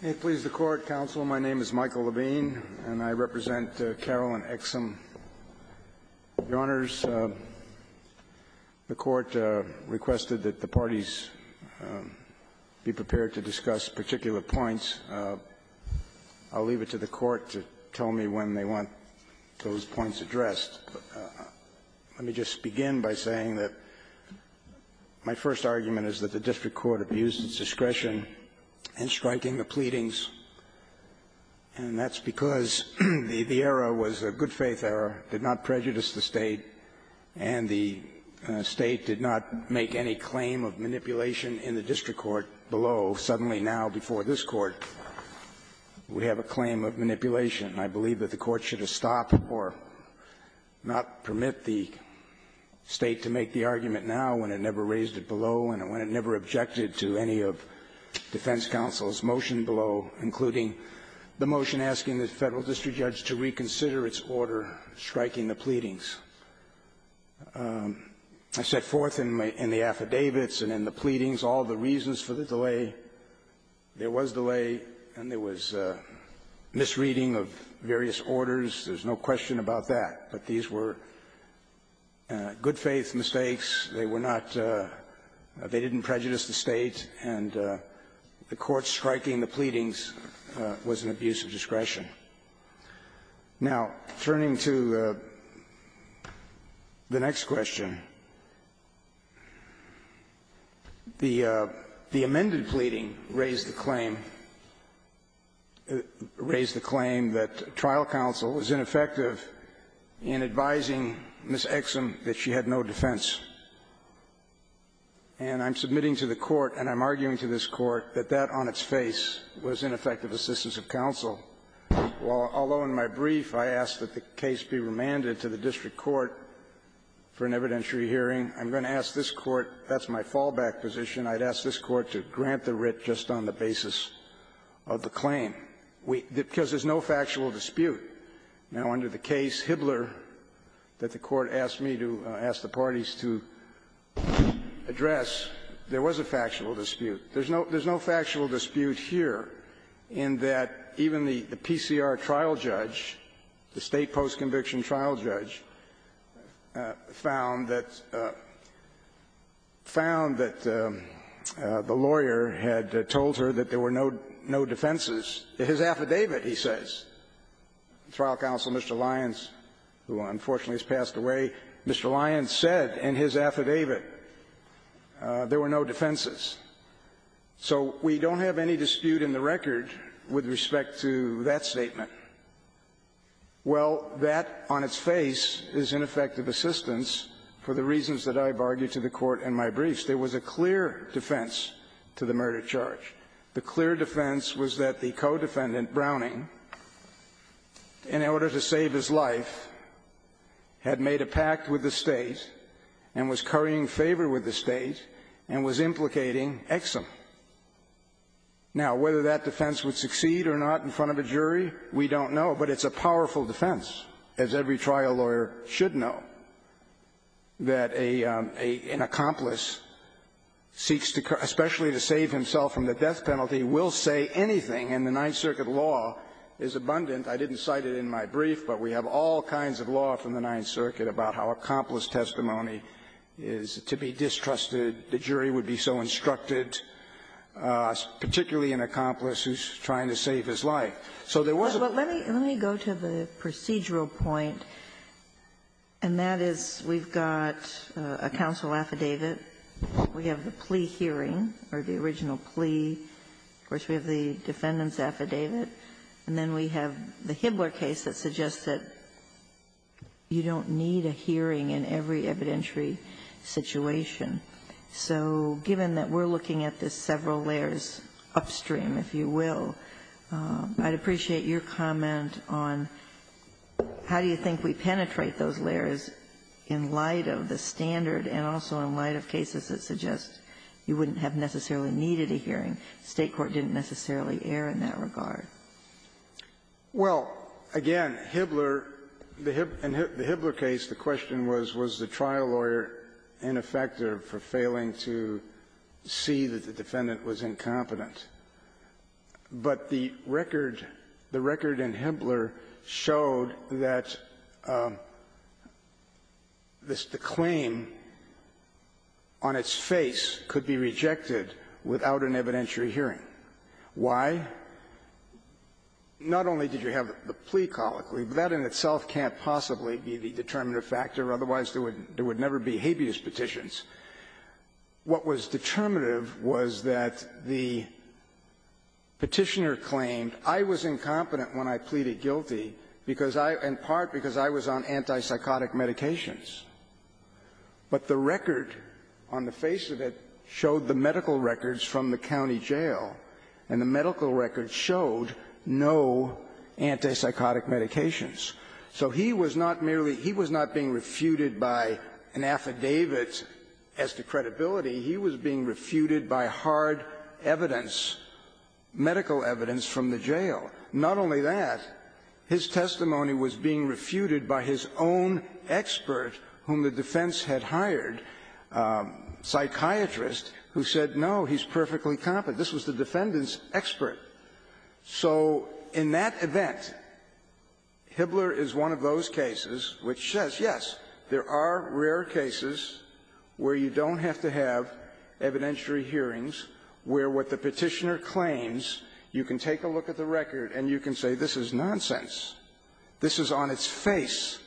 May it please the Court, Counsel. My name is Michael Levine, and I represent Carolyn Exum. Your Honors, the Court requested that the parties be prepared to discuss particular points. I'll leave it to the Court to tell me when they want those points addressed. Let me just begin by saying that my first argument is that the district court abused its discretion in striking the pleadings, and that's because the error was a good-faith error, did not prejudice the State, and the State did not make any claim of manipulation in the district court below. Suddenly, now, before this Court, we have a claim of manipulation. I believe that the Court should have stopped or not permit the State to make the argument now when it never raised it below and when it never objected to any of defense counsel's motion below, including the motion asking the Federal district judge to reconsider its order striking the pleadings. I set forth in the affidavits and in the pleadings all the reasons for the delay. There was delay, and there was misreading of various orders. There's no question about that. But these were good-faith mistakes. They were not they didn't prejudice the State, and the Court striking the pleadings was an abuse of discretion. Now, turning to the next question, the amended pleading raised the claim, raised the claim that trial counsel is ineffective in advising Ms. Exum that she had no defense. And I'm submitting to the Court, and I'm arguing to this Court, that that on its face was ineffective assistance of counsel. Although in my brief I asked that the case be remanded to the district court for an evidentiary hearing, I'm going to ask this Court, that's my fallback position, I'd ask this Court to grant the writ just on the basis of the claim. Because there's no factual dispute. Now, under the case, Hibbler, that the Court asked me to ask the parties to address, there was a factual dispute. There's no factual dispute here in that even the PCR trial judge, the State post-conviction trial judge, found that the lawyer had told her that there were no defenses, his affidavit, he says. Trial counsel, Mr. Lyons, who unfortunately has passed away, had told her Mr. Lyons said in his affidavit there were no defenses. So we don't have any dispute in the record with respect to that statement. Well, that on its face is ineffective assistance for the reasons that I've argued to the Court in my briefs. There was a clear defense to the murder charge. The clear defense was that the co-defendant, Mr. Browning, in order to save his life, had made a pact with the State and was currying favor with the State and was implicating Exum. Now, whether that defense would succeed or not in front of a jury, we don't know. But it's a powerful defense, as every trial lawyer should know, that a — an accomplice seeks to — especially to save himself from the death penalty will say anything. And the Ninth Circuit law is abundant. I didn't cite it in my brief, but we have all kinds of law from the Ninth Circuit about how accomplice testimony is to be distrusted, the jury would be so instructed, particularly an accomplice who's trying to save his life. So there was a — Ginsburg. Well, let me — let me go to the procedural point, and that is we've got a counsel affidavit, we have the plea hearing, or the original plea, of course, we have the defendant's affidavit, and then we have the Hibler case that suggests that you don't need a hearing in every evidentiary situation. So given that we're looking at this several layers upstream, if you will, I'd appreciate your comment on how do you think we penetrate those layers in light of the standpoint of the defendant and also in light of cases that suggest you wouldn't have necessarily needed a hearing. The State court didn't necessarily err in that regard. Well, again, Hibler — in the Hibler case, the question was, was the trial lawyer ineffective for failing to see that the defendant was incompetent. But the record — the record in Hibler showed that this — the claim that the defendant made on its face could be rejected without an evidentiary hearing. Why? Not only did you have the plea colloquy, but that in itself can't possibly be the determinative factor, otherwise there would never be habeas petitions. What was determinative was that the Petitioner claimed, I was incompetent when I pleaded guilty because I — in part because I was on antipsychotic medications. But the record on the face of it showed the medical records from the county jail. And the medical records showed no antipsychotic medications. So he was not merely — he was not being refuted by an affidavit as to credibility. He was being refuted by hard evidence, medical evidence from the jail. Not only that, his testimony was being refuted by his own expert whom the defense had hired, a psychiatrist, who said, no, he's perfectly competent. This was the defendant's expert. So in that event, Hibler is one of those cases which says, yes, there are rare cases where you don't have to have evidentiary hearings, where what the Petitioner claims, you can take a look at the record and you can say, this is nonsense. This is on its face.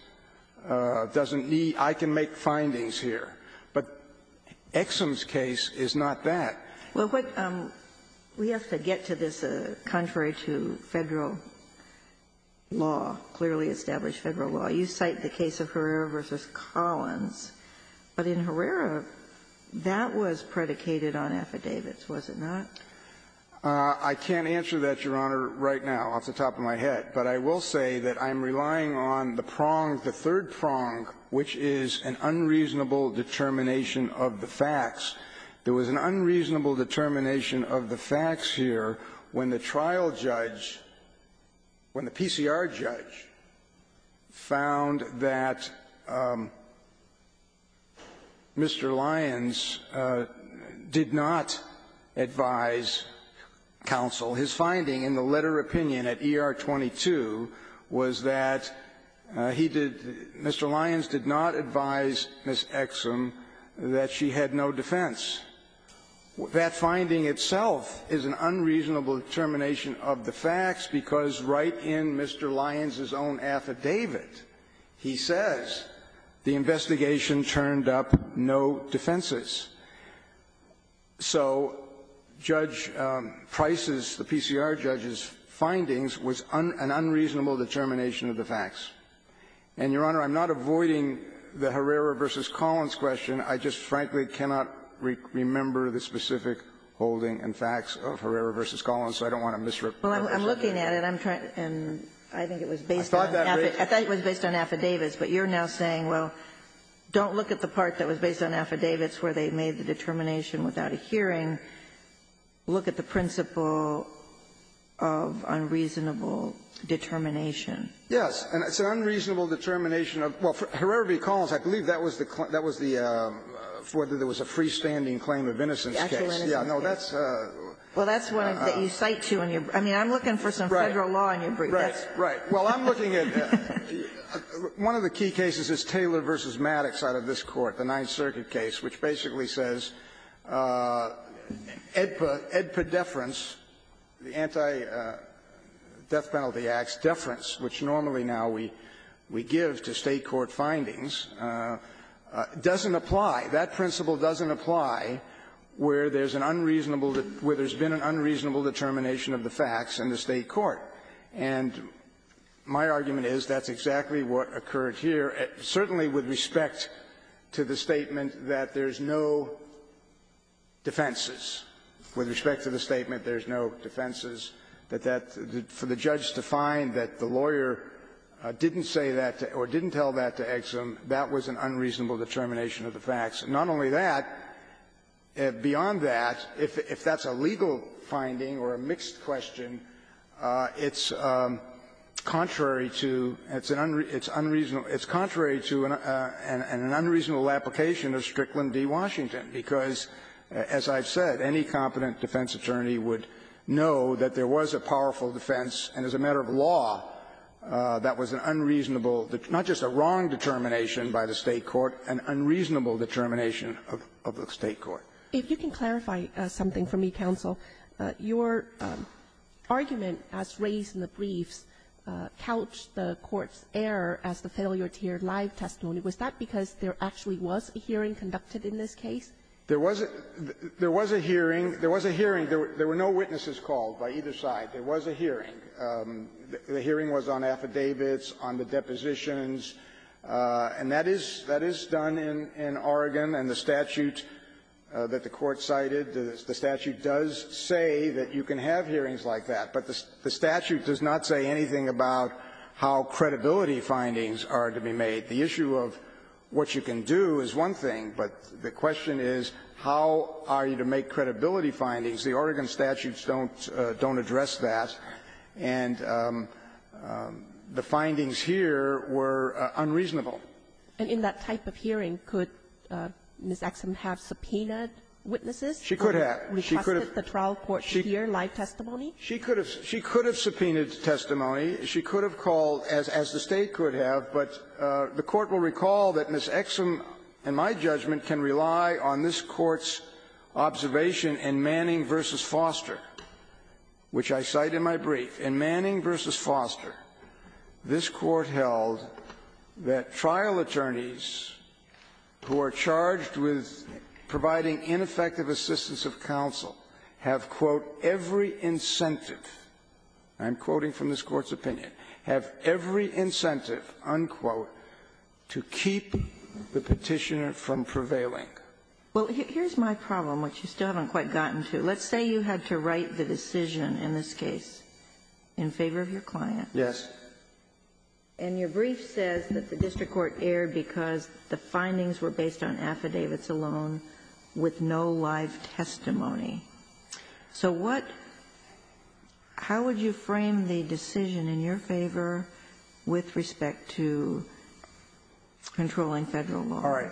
Doesn't need — I can make findings here. But Exum's case is not that. Ginsburg. Well, we have to get to this contrary to Federal law, clearly established Federal law. You cite the case of Herrera v. Collins. But in Herrera, that was predicated on affidavits, was it not? I can't answer that, Your Honor, right now off the top of my head. But I will say that I'm relying on the prong, the third prong, which is an unreasonable determination of the facts. There was an unreasonable determination of the facts here when the trial judge, when Mr. Lyons did not advise counsel, his finding in the letter of opinion at ER 22 was that he did — Mr. Lyons did not advise Ms. Exum that she had no defense. That finding itself is an unreasonable determination of the facts, because right in Mr. Lyons' own affidavit, he says, the investigation turned up no defenses. So Judge Price's, the PCR judge's, findings was an unreasonable determination of the facts. And, Your Honor, I'm not avoiding the Herrera v. Collins question. I just frankly cannot remember the specific holding and facts of Herrera v. Collins, so I don't want to misrepresent it. Well, I'm looking at it, and I'm trying to — and I think it was based on affidavits. I thought that was based on affidavits. But you're now saying, well, don't look at the part that was based on affidavits where they made the determination without a hearing. Look at the principle of unreasonable determination. Yes. And it's an unreasonable determination of — well, for Herrera v. Collins, I believe that was the — that was the — whether there was a freestanding claim of innocence case. Actual innocence case. Yeah. No, that's a — Well, that's one that you cite to in your — I mean, I'm looking for some Federal law in your brief. Right. Right. Well, I'm looking at — one of the key cases is Taylor v. Maddox out of this Court, the Ninth Circuit case, which basically says EDPA — EDPA deference, the Anti-Death Penalty Act's deference, which normally now we — we give to State court findings, doesn't apply. That principle doesn't apply where there's an unreasonable — where there's been an unreasonable determination of the facts in the State court. And my argument is that's exactly what occurred here. Certainly with respect to the statement that there's no defenses, with respect to the statement there's no defenses, that that — for the judge to find that the lawyer didn't say that or didn't tell that to Exum, that was an unreasonable determination of the facts. Not only that, beyond that, if that's a legal finding or a mixed question, it's contrary to — it's an unreasonable — it's contrary to an unreasonable application of Strickland v. Washington, because, as I've said, any competent defense attorney would know that there was a powerful defense, and as a matter of law, that was an unreasonable — not just a wrong determination by the State court, an unreasonable determination of the State court. If you can clarify something for me, counsel, your argument as raised in the briefs couched the Court's error as the failure to hear live testimony. Was that because there actually was a hearing conducted in this case? There was a — there was a hearing. There was a hearing. There were no witnesses called by either side. There was a hearing. The hearing was on affidavits, on the depositions, and that is — that is done in Oregon. And the statute that the Court cited, the statute does say that you can have hearings like that, but the statute does not say anything about how credibility findings are to be made. The issue of what you can do is one thing, but the question is how are you to make credibility findings. The Oregon statutes don't — don't address that, and the findings here were unreasonable. And in that type of hearing, could Ms. Exum have subpoenaed witnesses? She could have. She could have. Requested the trial court to hear live testimony? She could have. She could have subpoenaed testimony. She could have called, as the State could have, but the Court will recall that Ms. Exum, in my judgment, can rely on this Court's observation in Manning v. Foster, which I cite in my brief. In Manning v. Foster, this Court held that trial attorneys who are charged with providing ineffective assistance of counsel have, quote, every incentive — I'm quoting from this Court's opinion — have every incentive, unquote, to keep the Petitioner from prevailing. Well, here's my problem, which you still haven't quite gotten to. Let's say you had to write the decision in this case in favor of your client. Yes. And your brief says that the district court erred because the findings were based on affidavits alone with no live testimony. So what — how would you frame the decision in your favor with respect to controlling Federal law? All right.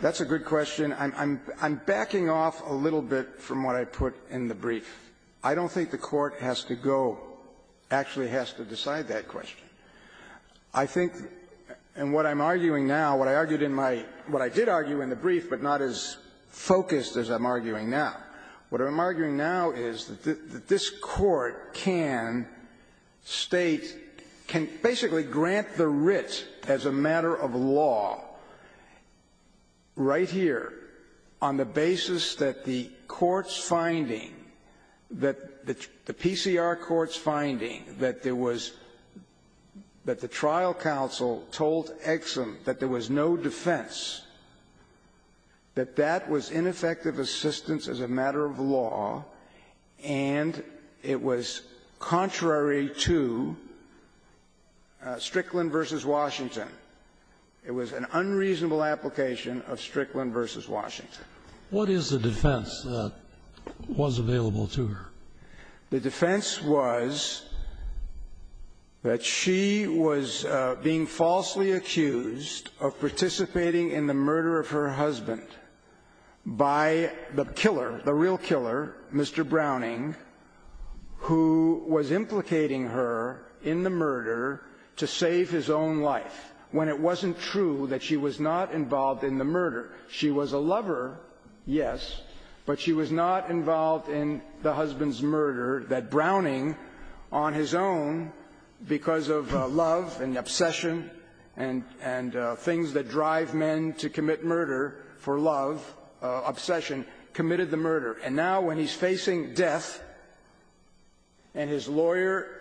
That's a good question. I'm backing off a little bit from what I put in the brief. I don't think the Court has to go — actually has to decide that question. I think — and what I'm arguing now, what I argued in my — what I did argue in the brief, but not as focused as I'm arguing now. What I'm arguing now is that this Court can state — can basically grant the writ as a matter of law, right here, on the basis that the court's finding, that the PCR court's finding, that there was — that the trial counsel told Exum that there was no defense, that that was ineffective assistance as a matter of law, and it was contrary to Strickland v. Washington. It was an unreasonable application of Strickland v. Washington. What is the defense that was available to her? The defense was that she was being falsely accused of participating in the murder of her husband by the killer, the real killer, Mr. Browning, who was implicating her in the murder to save his own life, when it wasn't true that she was not involved in the murder. She was a lover, yes, but she was not involved in the husband's murder that Browning, on his own, because of love and obsession and things that drive men to commit murder for love, obsession, committed the murder. And now, when he's facing death and his lawyer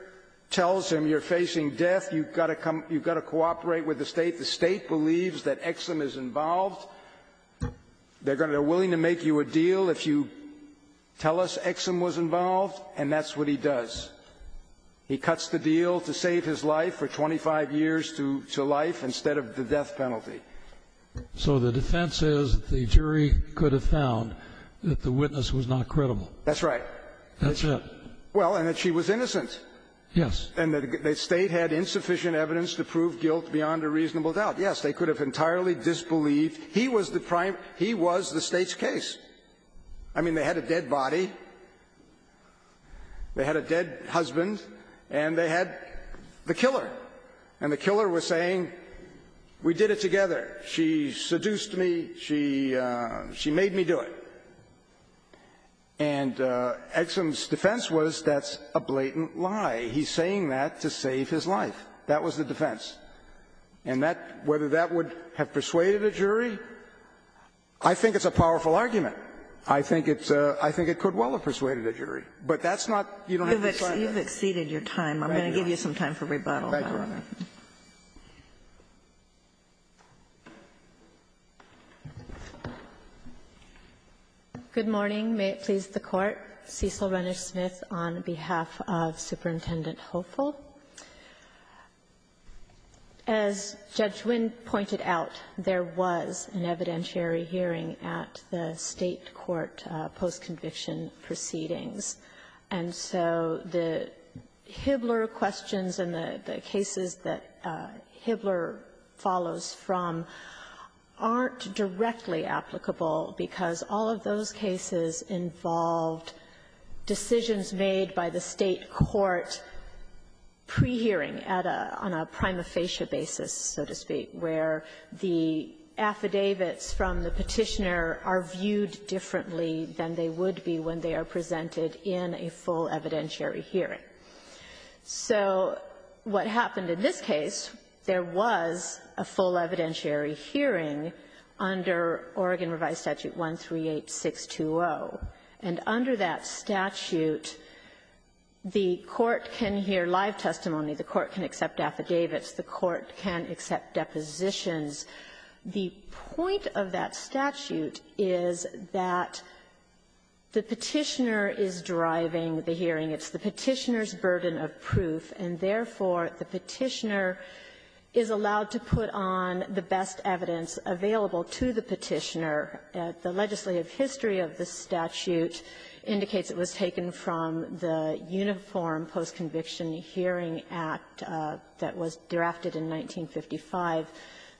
tells him, you're facing death, you've got to come — you've got to cooperate with the state, the state believes that Exum is involved. They're going to — they're willing to make you a deal if you tell us Exum was involved, and that's what he does. He cuts the deal to save his life for 25 years to life instead of the death penalty. So the defense is that the jury could have found that the witness was not credible. That's right. That's it. Well, and that she was innocent. Yes. And that the State had insufficient evidence to prove guilt beyond a reasonable doubt. Yes, they could have entirely disbelieved he was the prime — he was the State's case. I mean, they had a dead body, they had a dead husband, and they had the killer. And the killer was saying, we did it together. She seduced me. She — she made me do it. And Exum's defense was, that's a blatant lie. He's saying that to save his life. That was the defense. And that — whether that would have persuaded a jury, I think it's a powerful argument. I think it's a — I think it could well have persuaded a jury. But that's not — you don't have to decide that. You've exceeded your time. I'm going to give you some time for rebuttal. Thank you, Your Honor. Good morning. May it please the Court. Cecil Rennish-Smith on behalf of Superintendent Hopeful. As Judge Wynn pointed out, there was an evidentiary hearing at the State court post-conviction proceedings. And so the Hibbler questions and the cases that Hibbler follows from aren't directly applicable because all of those cases involved decisions made by the State court pre-hearing at a — on a prima facie basis, so to speak, where the affidavits from the petitioner are viewed differently than they would be when they are presented in a full evidentiary hearing. So what happened in this case, there was a full evidentiary hearing under Oregon Revised Statute 138620. And under that statute, the court can hear live testimony. The court can accept affidavits. The court can accept depositions. The point of that statute is that the petitioner is driving the hearing. It's the petitioner's burden of proof, and therefore, the petitioner is allowed to put on the best evidence available to the petitioner. The legislative history of the statute indicates it was taken from the Uniform Post-Conviction Hearing Act that was drafted in 1955.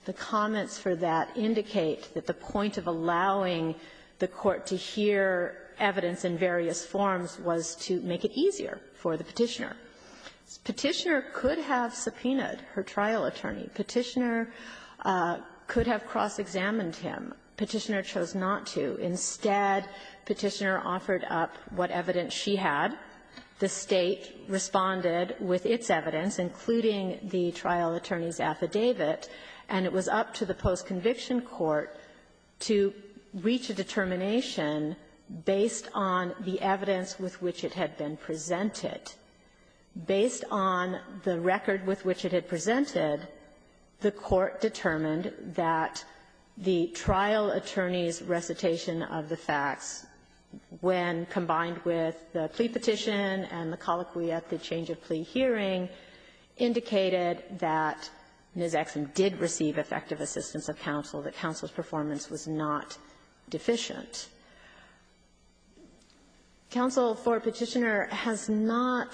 The comments for that indicate that the point of allowing the court to hear evidence in various forms was to make it easier for the petitioner. Petitioner could have subpoenaed her trial attorney. Petitioner could have cross-examined him. Petitioner chose not to. Instead, petitioner offered up what evidence she had. The State responded with its evidence, including the trial attorney's affidavit. And it was up to the post-conviction court to reach a determination based on the evidence with which it had been presented. Based on the record with which it had presented, the court determined that the trial attorney's recitation of the facts, when combined with the plea petition and the colloquy at the change-of-plea hearing, indicated that Ms. Exum did receive effective assistance of counsel, that counsel's performance was not deficient. Counsel for Petitioner has not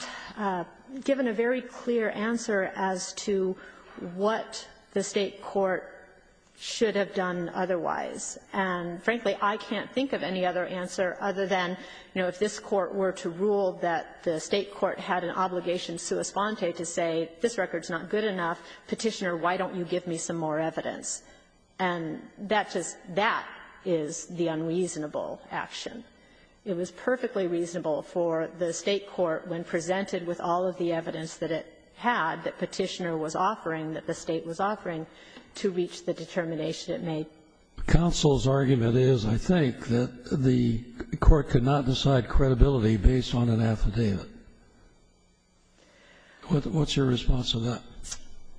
given a very clear answer as to what the State court should have done otherwise. And, frankly, I can't think of any other answer other than, you know, if this Court were to rule that the State court had an obligation sua sponte to say, this record is not good enough, Petitioner, why don't you give me some more evidence? And that just that is the unreasonable action. It was perfectly reasonable for the State court, when presented with all of the evidence that it had that Petitioner was offering, that the State was offering, to reach the determination it made. The counsel's argument is, I think, that the court could not decide credibility based on an affidavit. What's your response to that?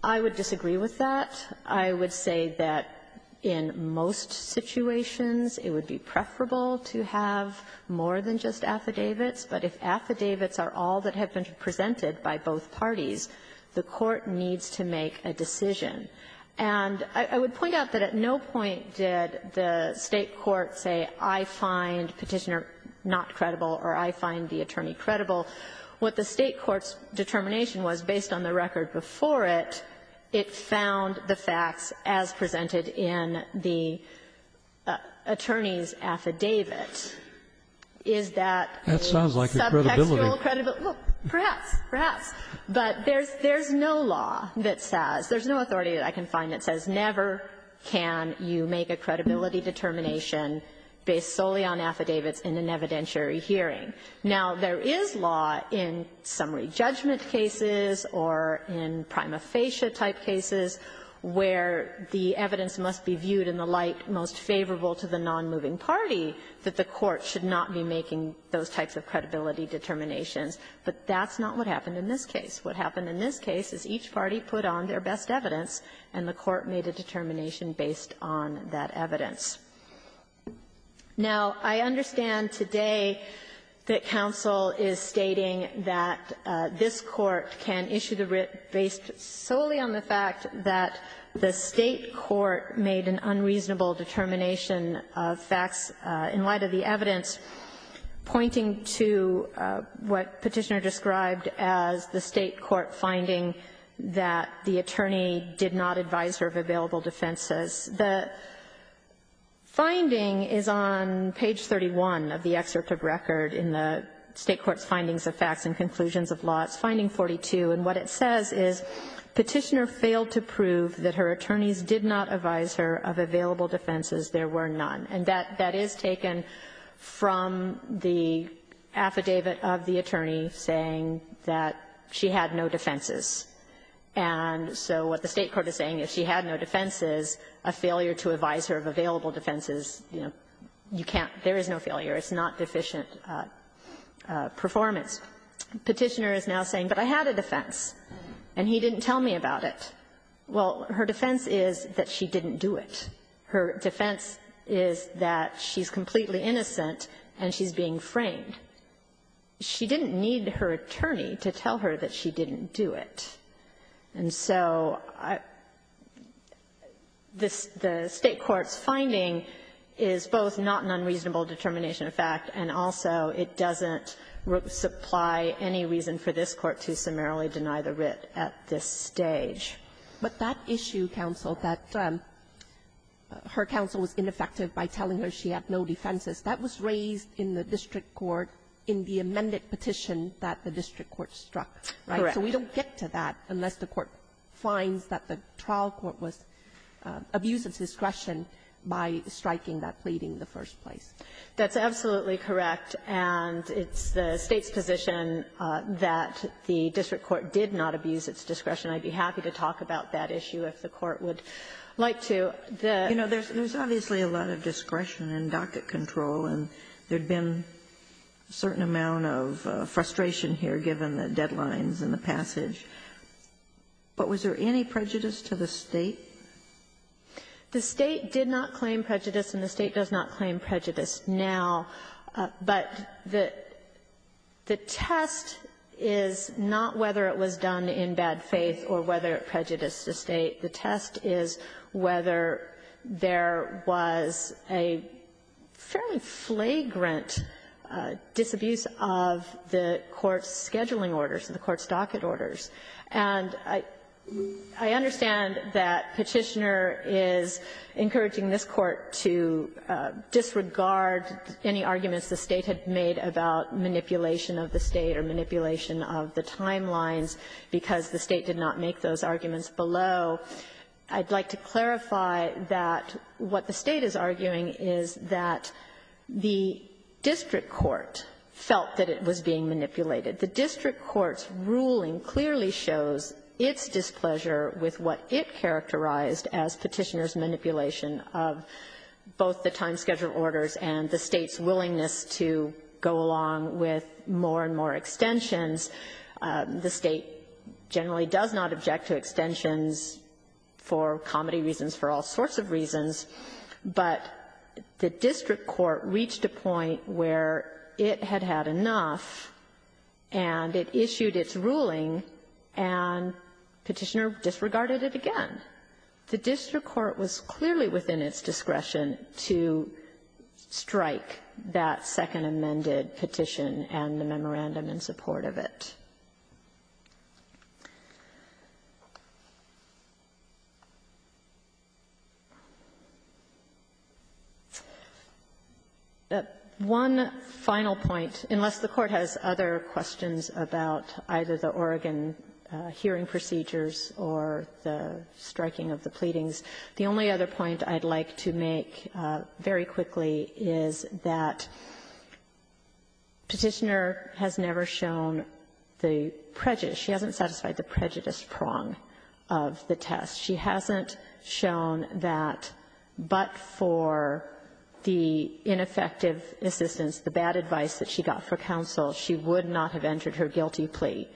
I would disagree with that. I would say that in most situations, it would be preferable to have more than just affidavits, but if affidavits are all that have been presented by both parties, the court needs to make a decision. And I would point out that at no point did the State court say, I find Petitioner not credible or I find the attorney credible. What the State court's determination was, based on the record before it, it found the facts as presented in the attorney's affidavit. Is that a subtextual credibility? That sounds like a credibility. Well, perhaps, perhaps. But there's no law that says, there's no authority that I can find that says never can you make a credibility determination based solely on affidavits in an evidentiary hearing. Now, there is law in summary judgment cases or in prima facie-type cases where the evidence must be viewed in the light most favorable to the nonmoving party that the But that's not what happened in this case. What happened in this case is each party put on their best evidence, and the court made a determination based on that evidence. Now, I understand today that counsel is stating that this Court can issue the writ based solely on the fact that the State court made an unreasonable determination of facts in light of the evidence, pointing to what Petitioner described as the State court finding that the attorney did not advise her of available defenses. The finding is on page 31 of the excerpt of record in the State court's findings of facts and conclusions of law. It's finding 42. And what it says is Petitioner failed to prove that her attorneys did not advise her of available defenses. There were none. And that is taken from the affidavit of the attorney saying that she had no defenses. And so what the State court is saying is she had no defenses. A failure to advise her of available defenses, you know, you can't, there is no failure. It's not deficient performance. Petitioner is now saying, but I had a defense. And he didn't tell me about it. Well, her defense is that she didn't do it. Her defense is that she's completely innocent and she's being framed. She didn't need her attorney to tell her that she didn't do it. And so the State court's finding is both not an unreasonable determination of fact and also it doesn't supply any reason for this Court to summarily deny the writ at this stage. But that issue, counsel, that her counsel was ineffective by telling her she had no defenses, that was raised in the district court in the amended petition that the district court struck. Correct. So we don't get to that unless the court finds that the trial court was abuse of discretion by striking that pleading in the first place. That's absolutely correct. And it's the State's position that the district court did not abuse its discretion. I'd be happy to talk about that issue if the court would like to. The ---- You know, there's obviously a lot of discretion and docket control, and there'd been a certain amount of frustration here given the deadlines and the passage. But was there any prejudice to the State? The State did not claim prejudice and the State does not claim prejudice now. But the test is not whether it was done in bad faith or whether it prejudiced the State. The test is whether there was a fairly flagrant disabuse of the court's scheduling orders and the court's docket orders. And I understand that Petitioner is encouraging this Court to disregard any argument the State had made about manipulation of the State or manipulation of the timelines because the State did not make those arguments below. I'd like to clarify that what the State is arguing is that the district court felt that it was being manipulated. The district court's ruling clearly shows its displeasure with what it characterized as Petitioner's manipulation of both the time schedule orders and the State's willingness to go along with more and more extensions. The State generally does not object to extensions for comedy reasons, for all sorts of reasons. But the district court reached a point where it had had enough and it issued its ruling and Petitioner disregarded it again. The district court was clearly within its discretion to strike that second amended petition and the memorandum in support of it. One final point, unless the Court has other questions about either the Oregon hearing procedures or the striking of the pleadings, the only other point I'd like to make very quickly is that Petitioner has never shown the prejudice. She hasn't satisfied the prejudice prong of the test. She hasn't shown that but for the ineffective assistance, the bad advice that she got for counsel, she would not have entered her guilty plea.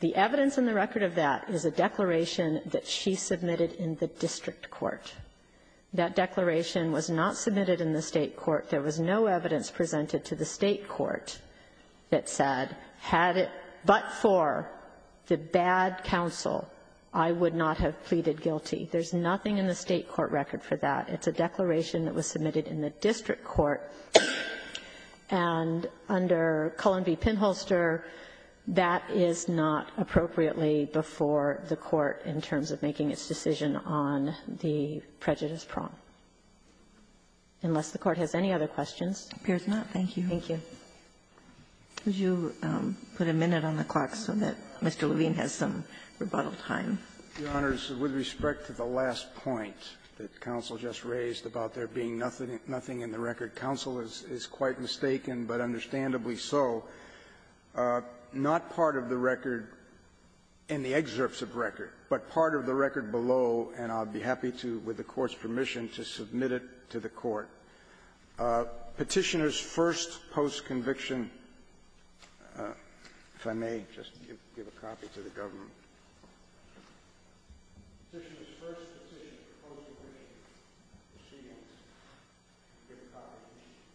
The evidence in the record of that is a declaration that she submitted in the district court. That declaration was not submitted in the State court. There was no evidence presented to the State court that said, had it but for the bad counsel, I would not have pleaded guilty. There's nothing in the State court record for that. It's a declaration that was submitted in the district court. And under Cullen v. Pinholster, that is not appropriately before the court in terms of making its decision on the prejudice prong, unless the Court has any other questions. Ginsburg. Thank you. Thank you. Could you put a minute on the clock so that Mr. Levine has some rebuttal time? Your Honors, with respect to the last point that counsel just raised about there being nothing in the record, counsel is quite mistaken, but understandably so. Not part of the record in the excerpts of record, but part of the record below, and I'll be happy to, with the Court's permission, to submit it to the Court. Petitioner's first post-conviction, if I may, just give a copy to the government. Petitioner's first petition of post-conviction proceedings, give a copy to the Court.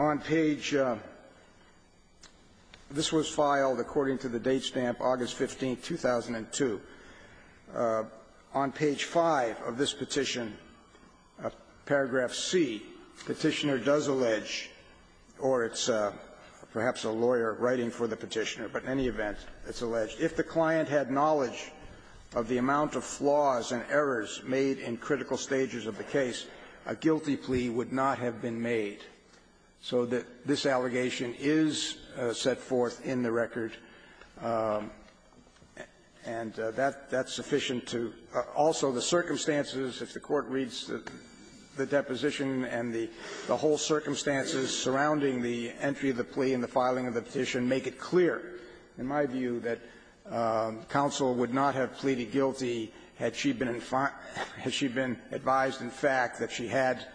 On page this was filed according to the date stamp August 15th, 2002. On page 5 of this petition, paragraph C, Petitioner does allege, or it's perhaps a lawyer writing for the Petitioner, but in any event, it's alleged, if the client had knowledge of the amount of flaws and errors made in critical stages of the case, a guilty plea would not have been made. So this allegation is set forth in the record, and that's sufficient to also the circumstances if the Court reads the deposition and the whole circumstances surrounding the entry of the plea and the filing of the petition, make it clear, in my view, that counsel would not have pleaded guilty had she been advised in fact that the plaintiff had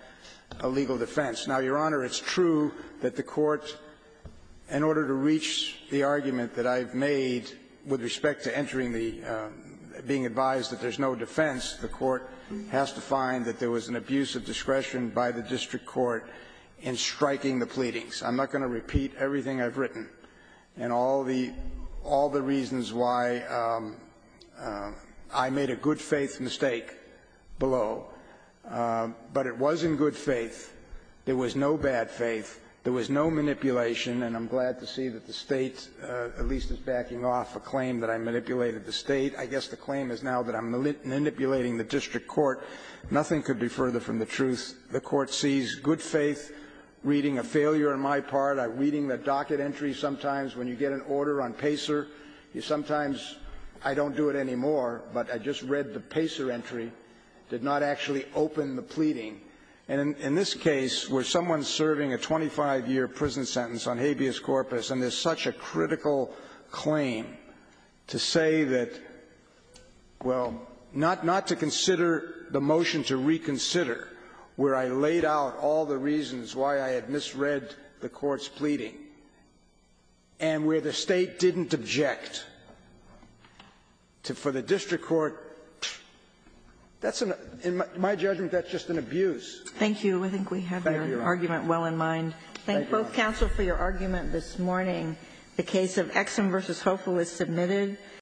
a legal defense. Now, Your Honor, it's true that the Court, in order to reach the argument that I've made with respect to entering the being advised that there's no defense, the Court has to find that there was an abuse of discretion by the district court in striking the pleadings. I'm not going to repeat everything I've written and all the reasons why I made a good claim, but it was in good faith, there was no bad faith, there was no manipulation. And I'm glad to see that the State at least is backing off a claim that I manipulated the State. I guess the claim is now that I'm manipulating the district court. Nothing could be further from the truth. The Court sees good faith, reading a failure on my part, reading the docket entry sometimes when you get an order on PACER, sometimes I don't do it anymore, but I just read the PACER entry, did not actually open the pleading. And in this case, where someone's serving a 25-year prison sentence on habeas corpus and there's such a critical claim to say that, well, not to consider the motion to reconsider where I laid out all the reasons why I had misread the Court's pleading and where the State didn't object, for the district court, that's an — in my judgment, that's just an abuse. Thank you. I think we have your argument well in mind. Thank you. I thank both counsel for your argument this morning. The case of Exum v. Hofer was submitted.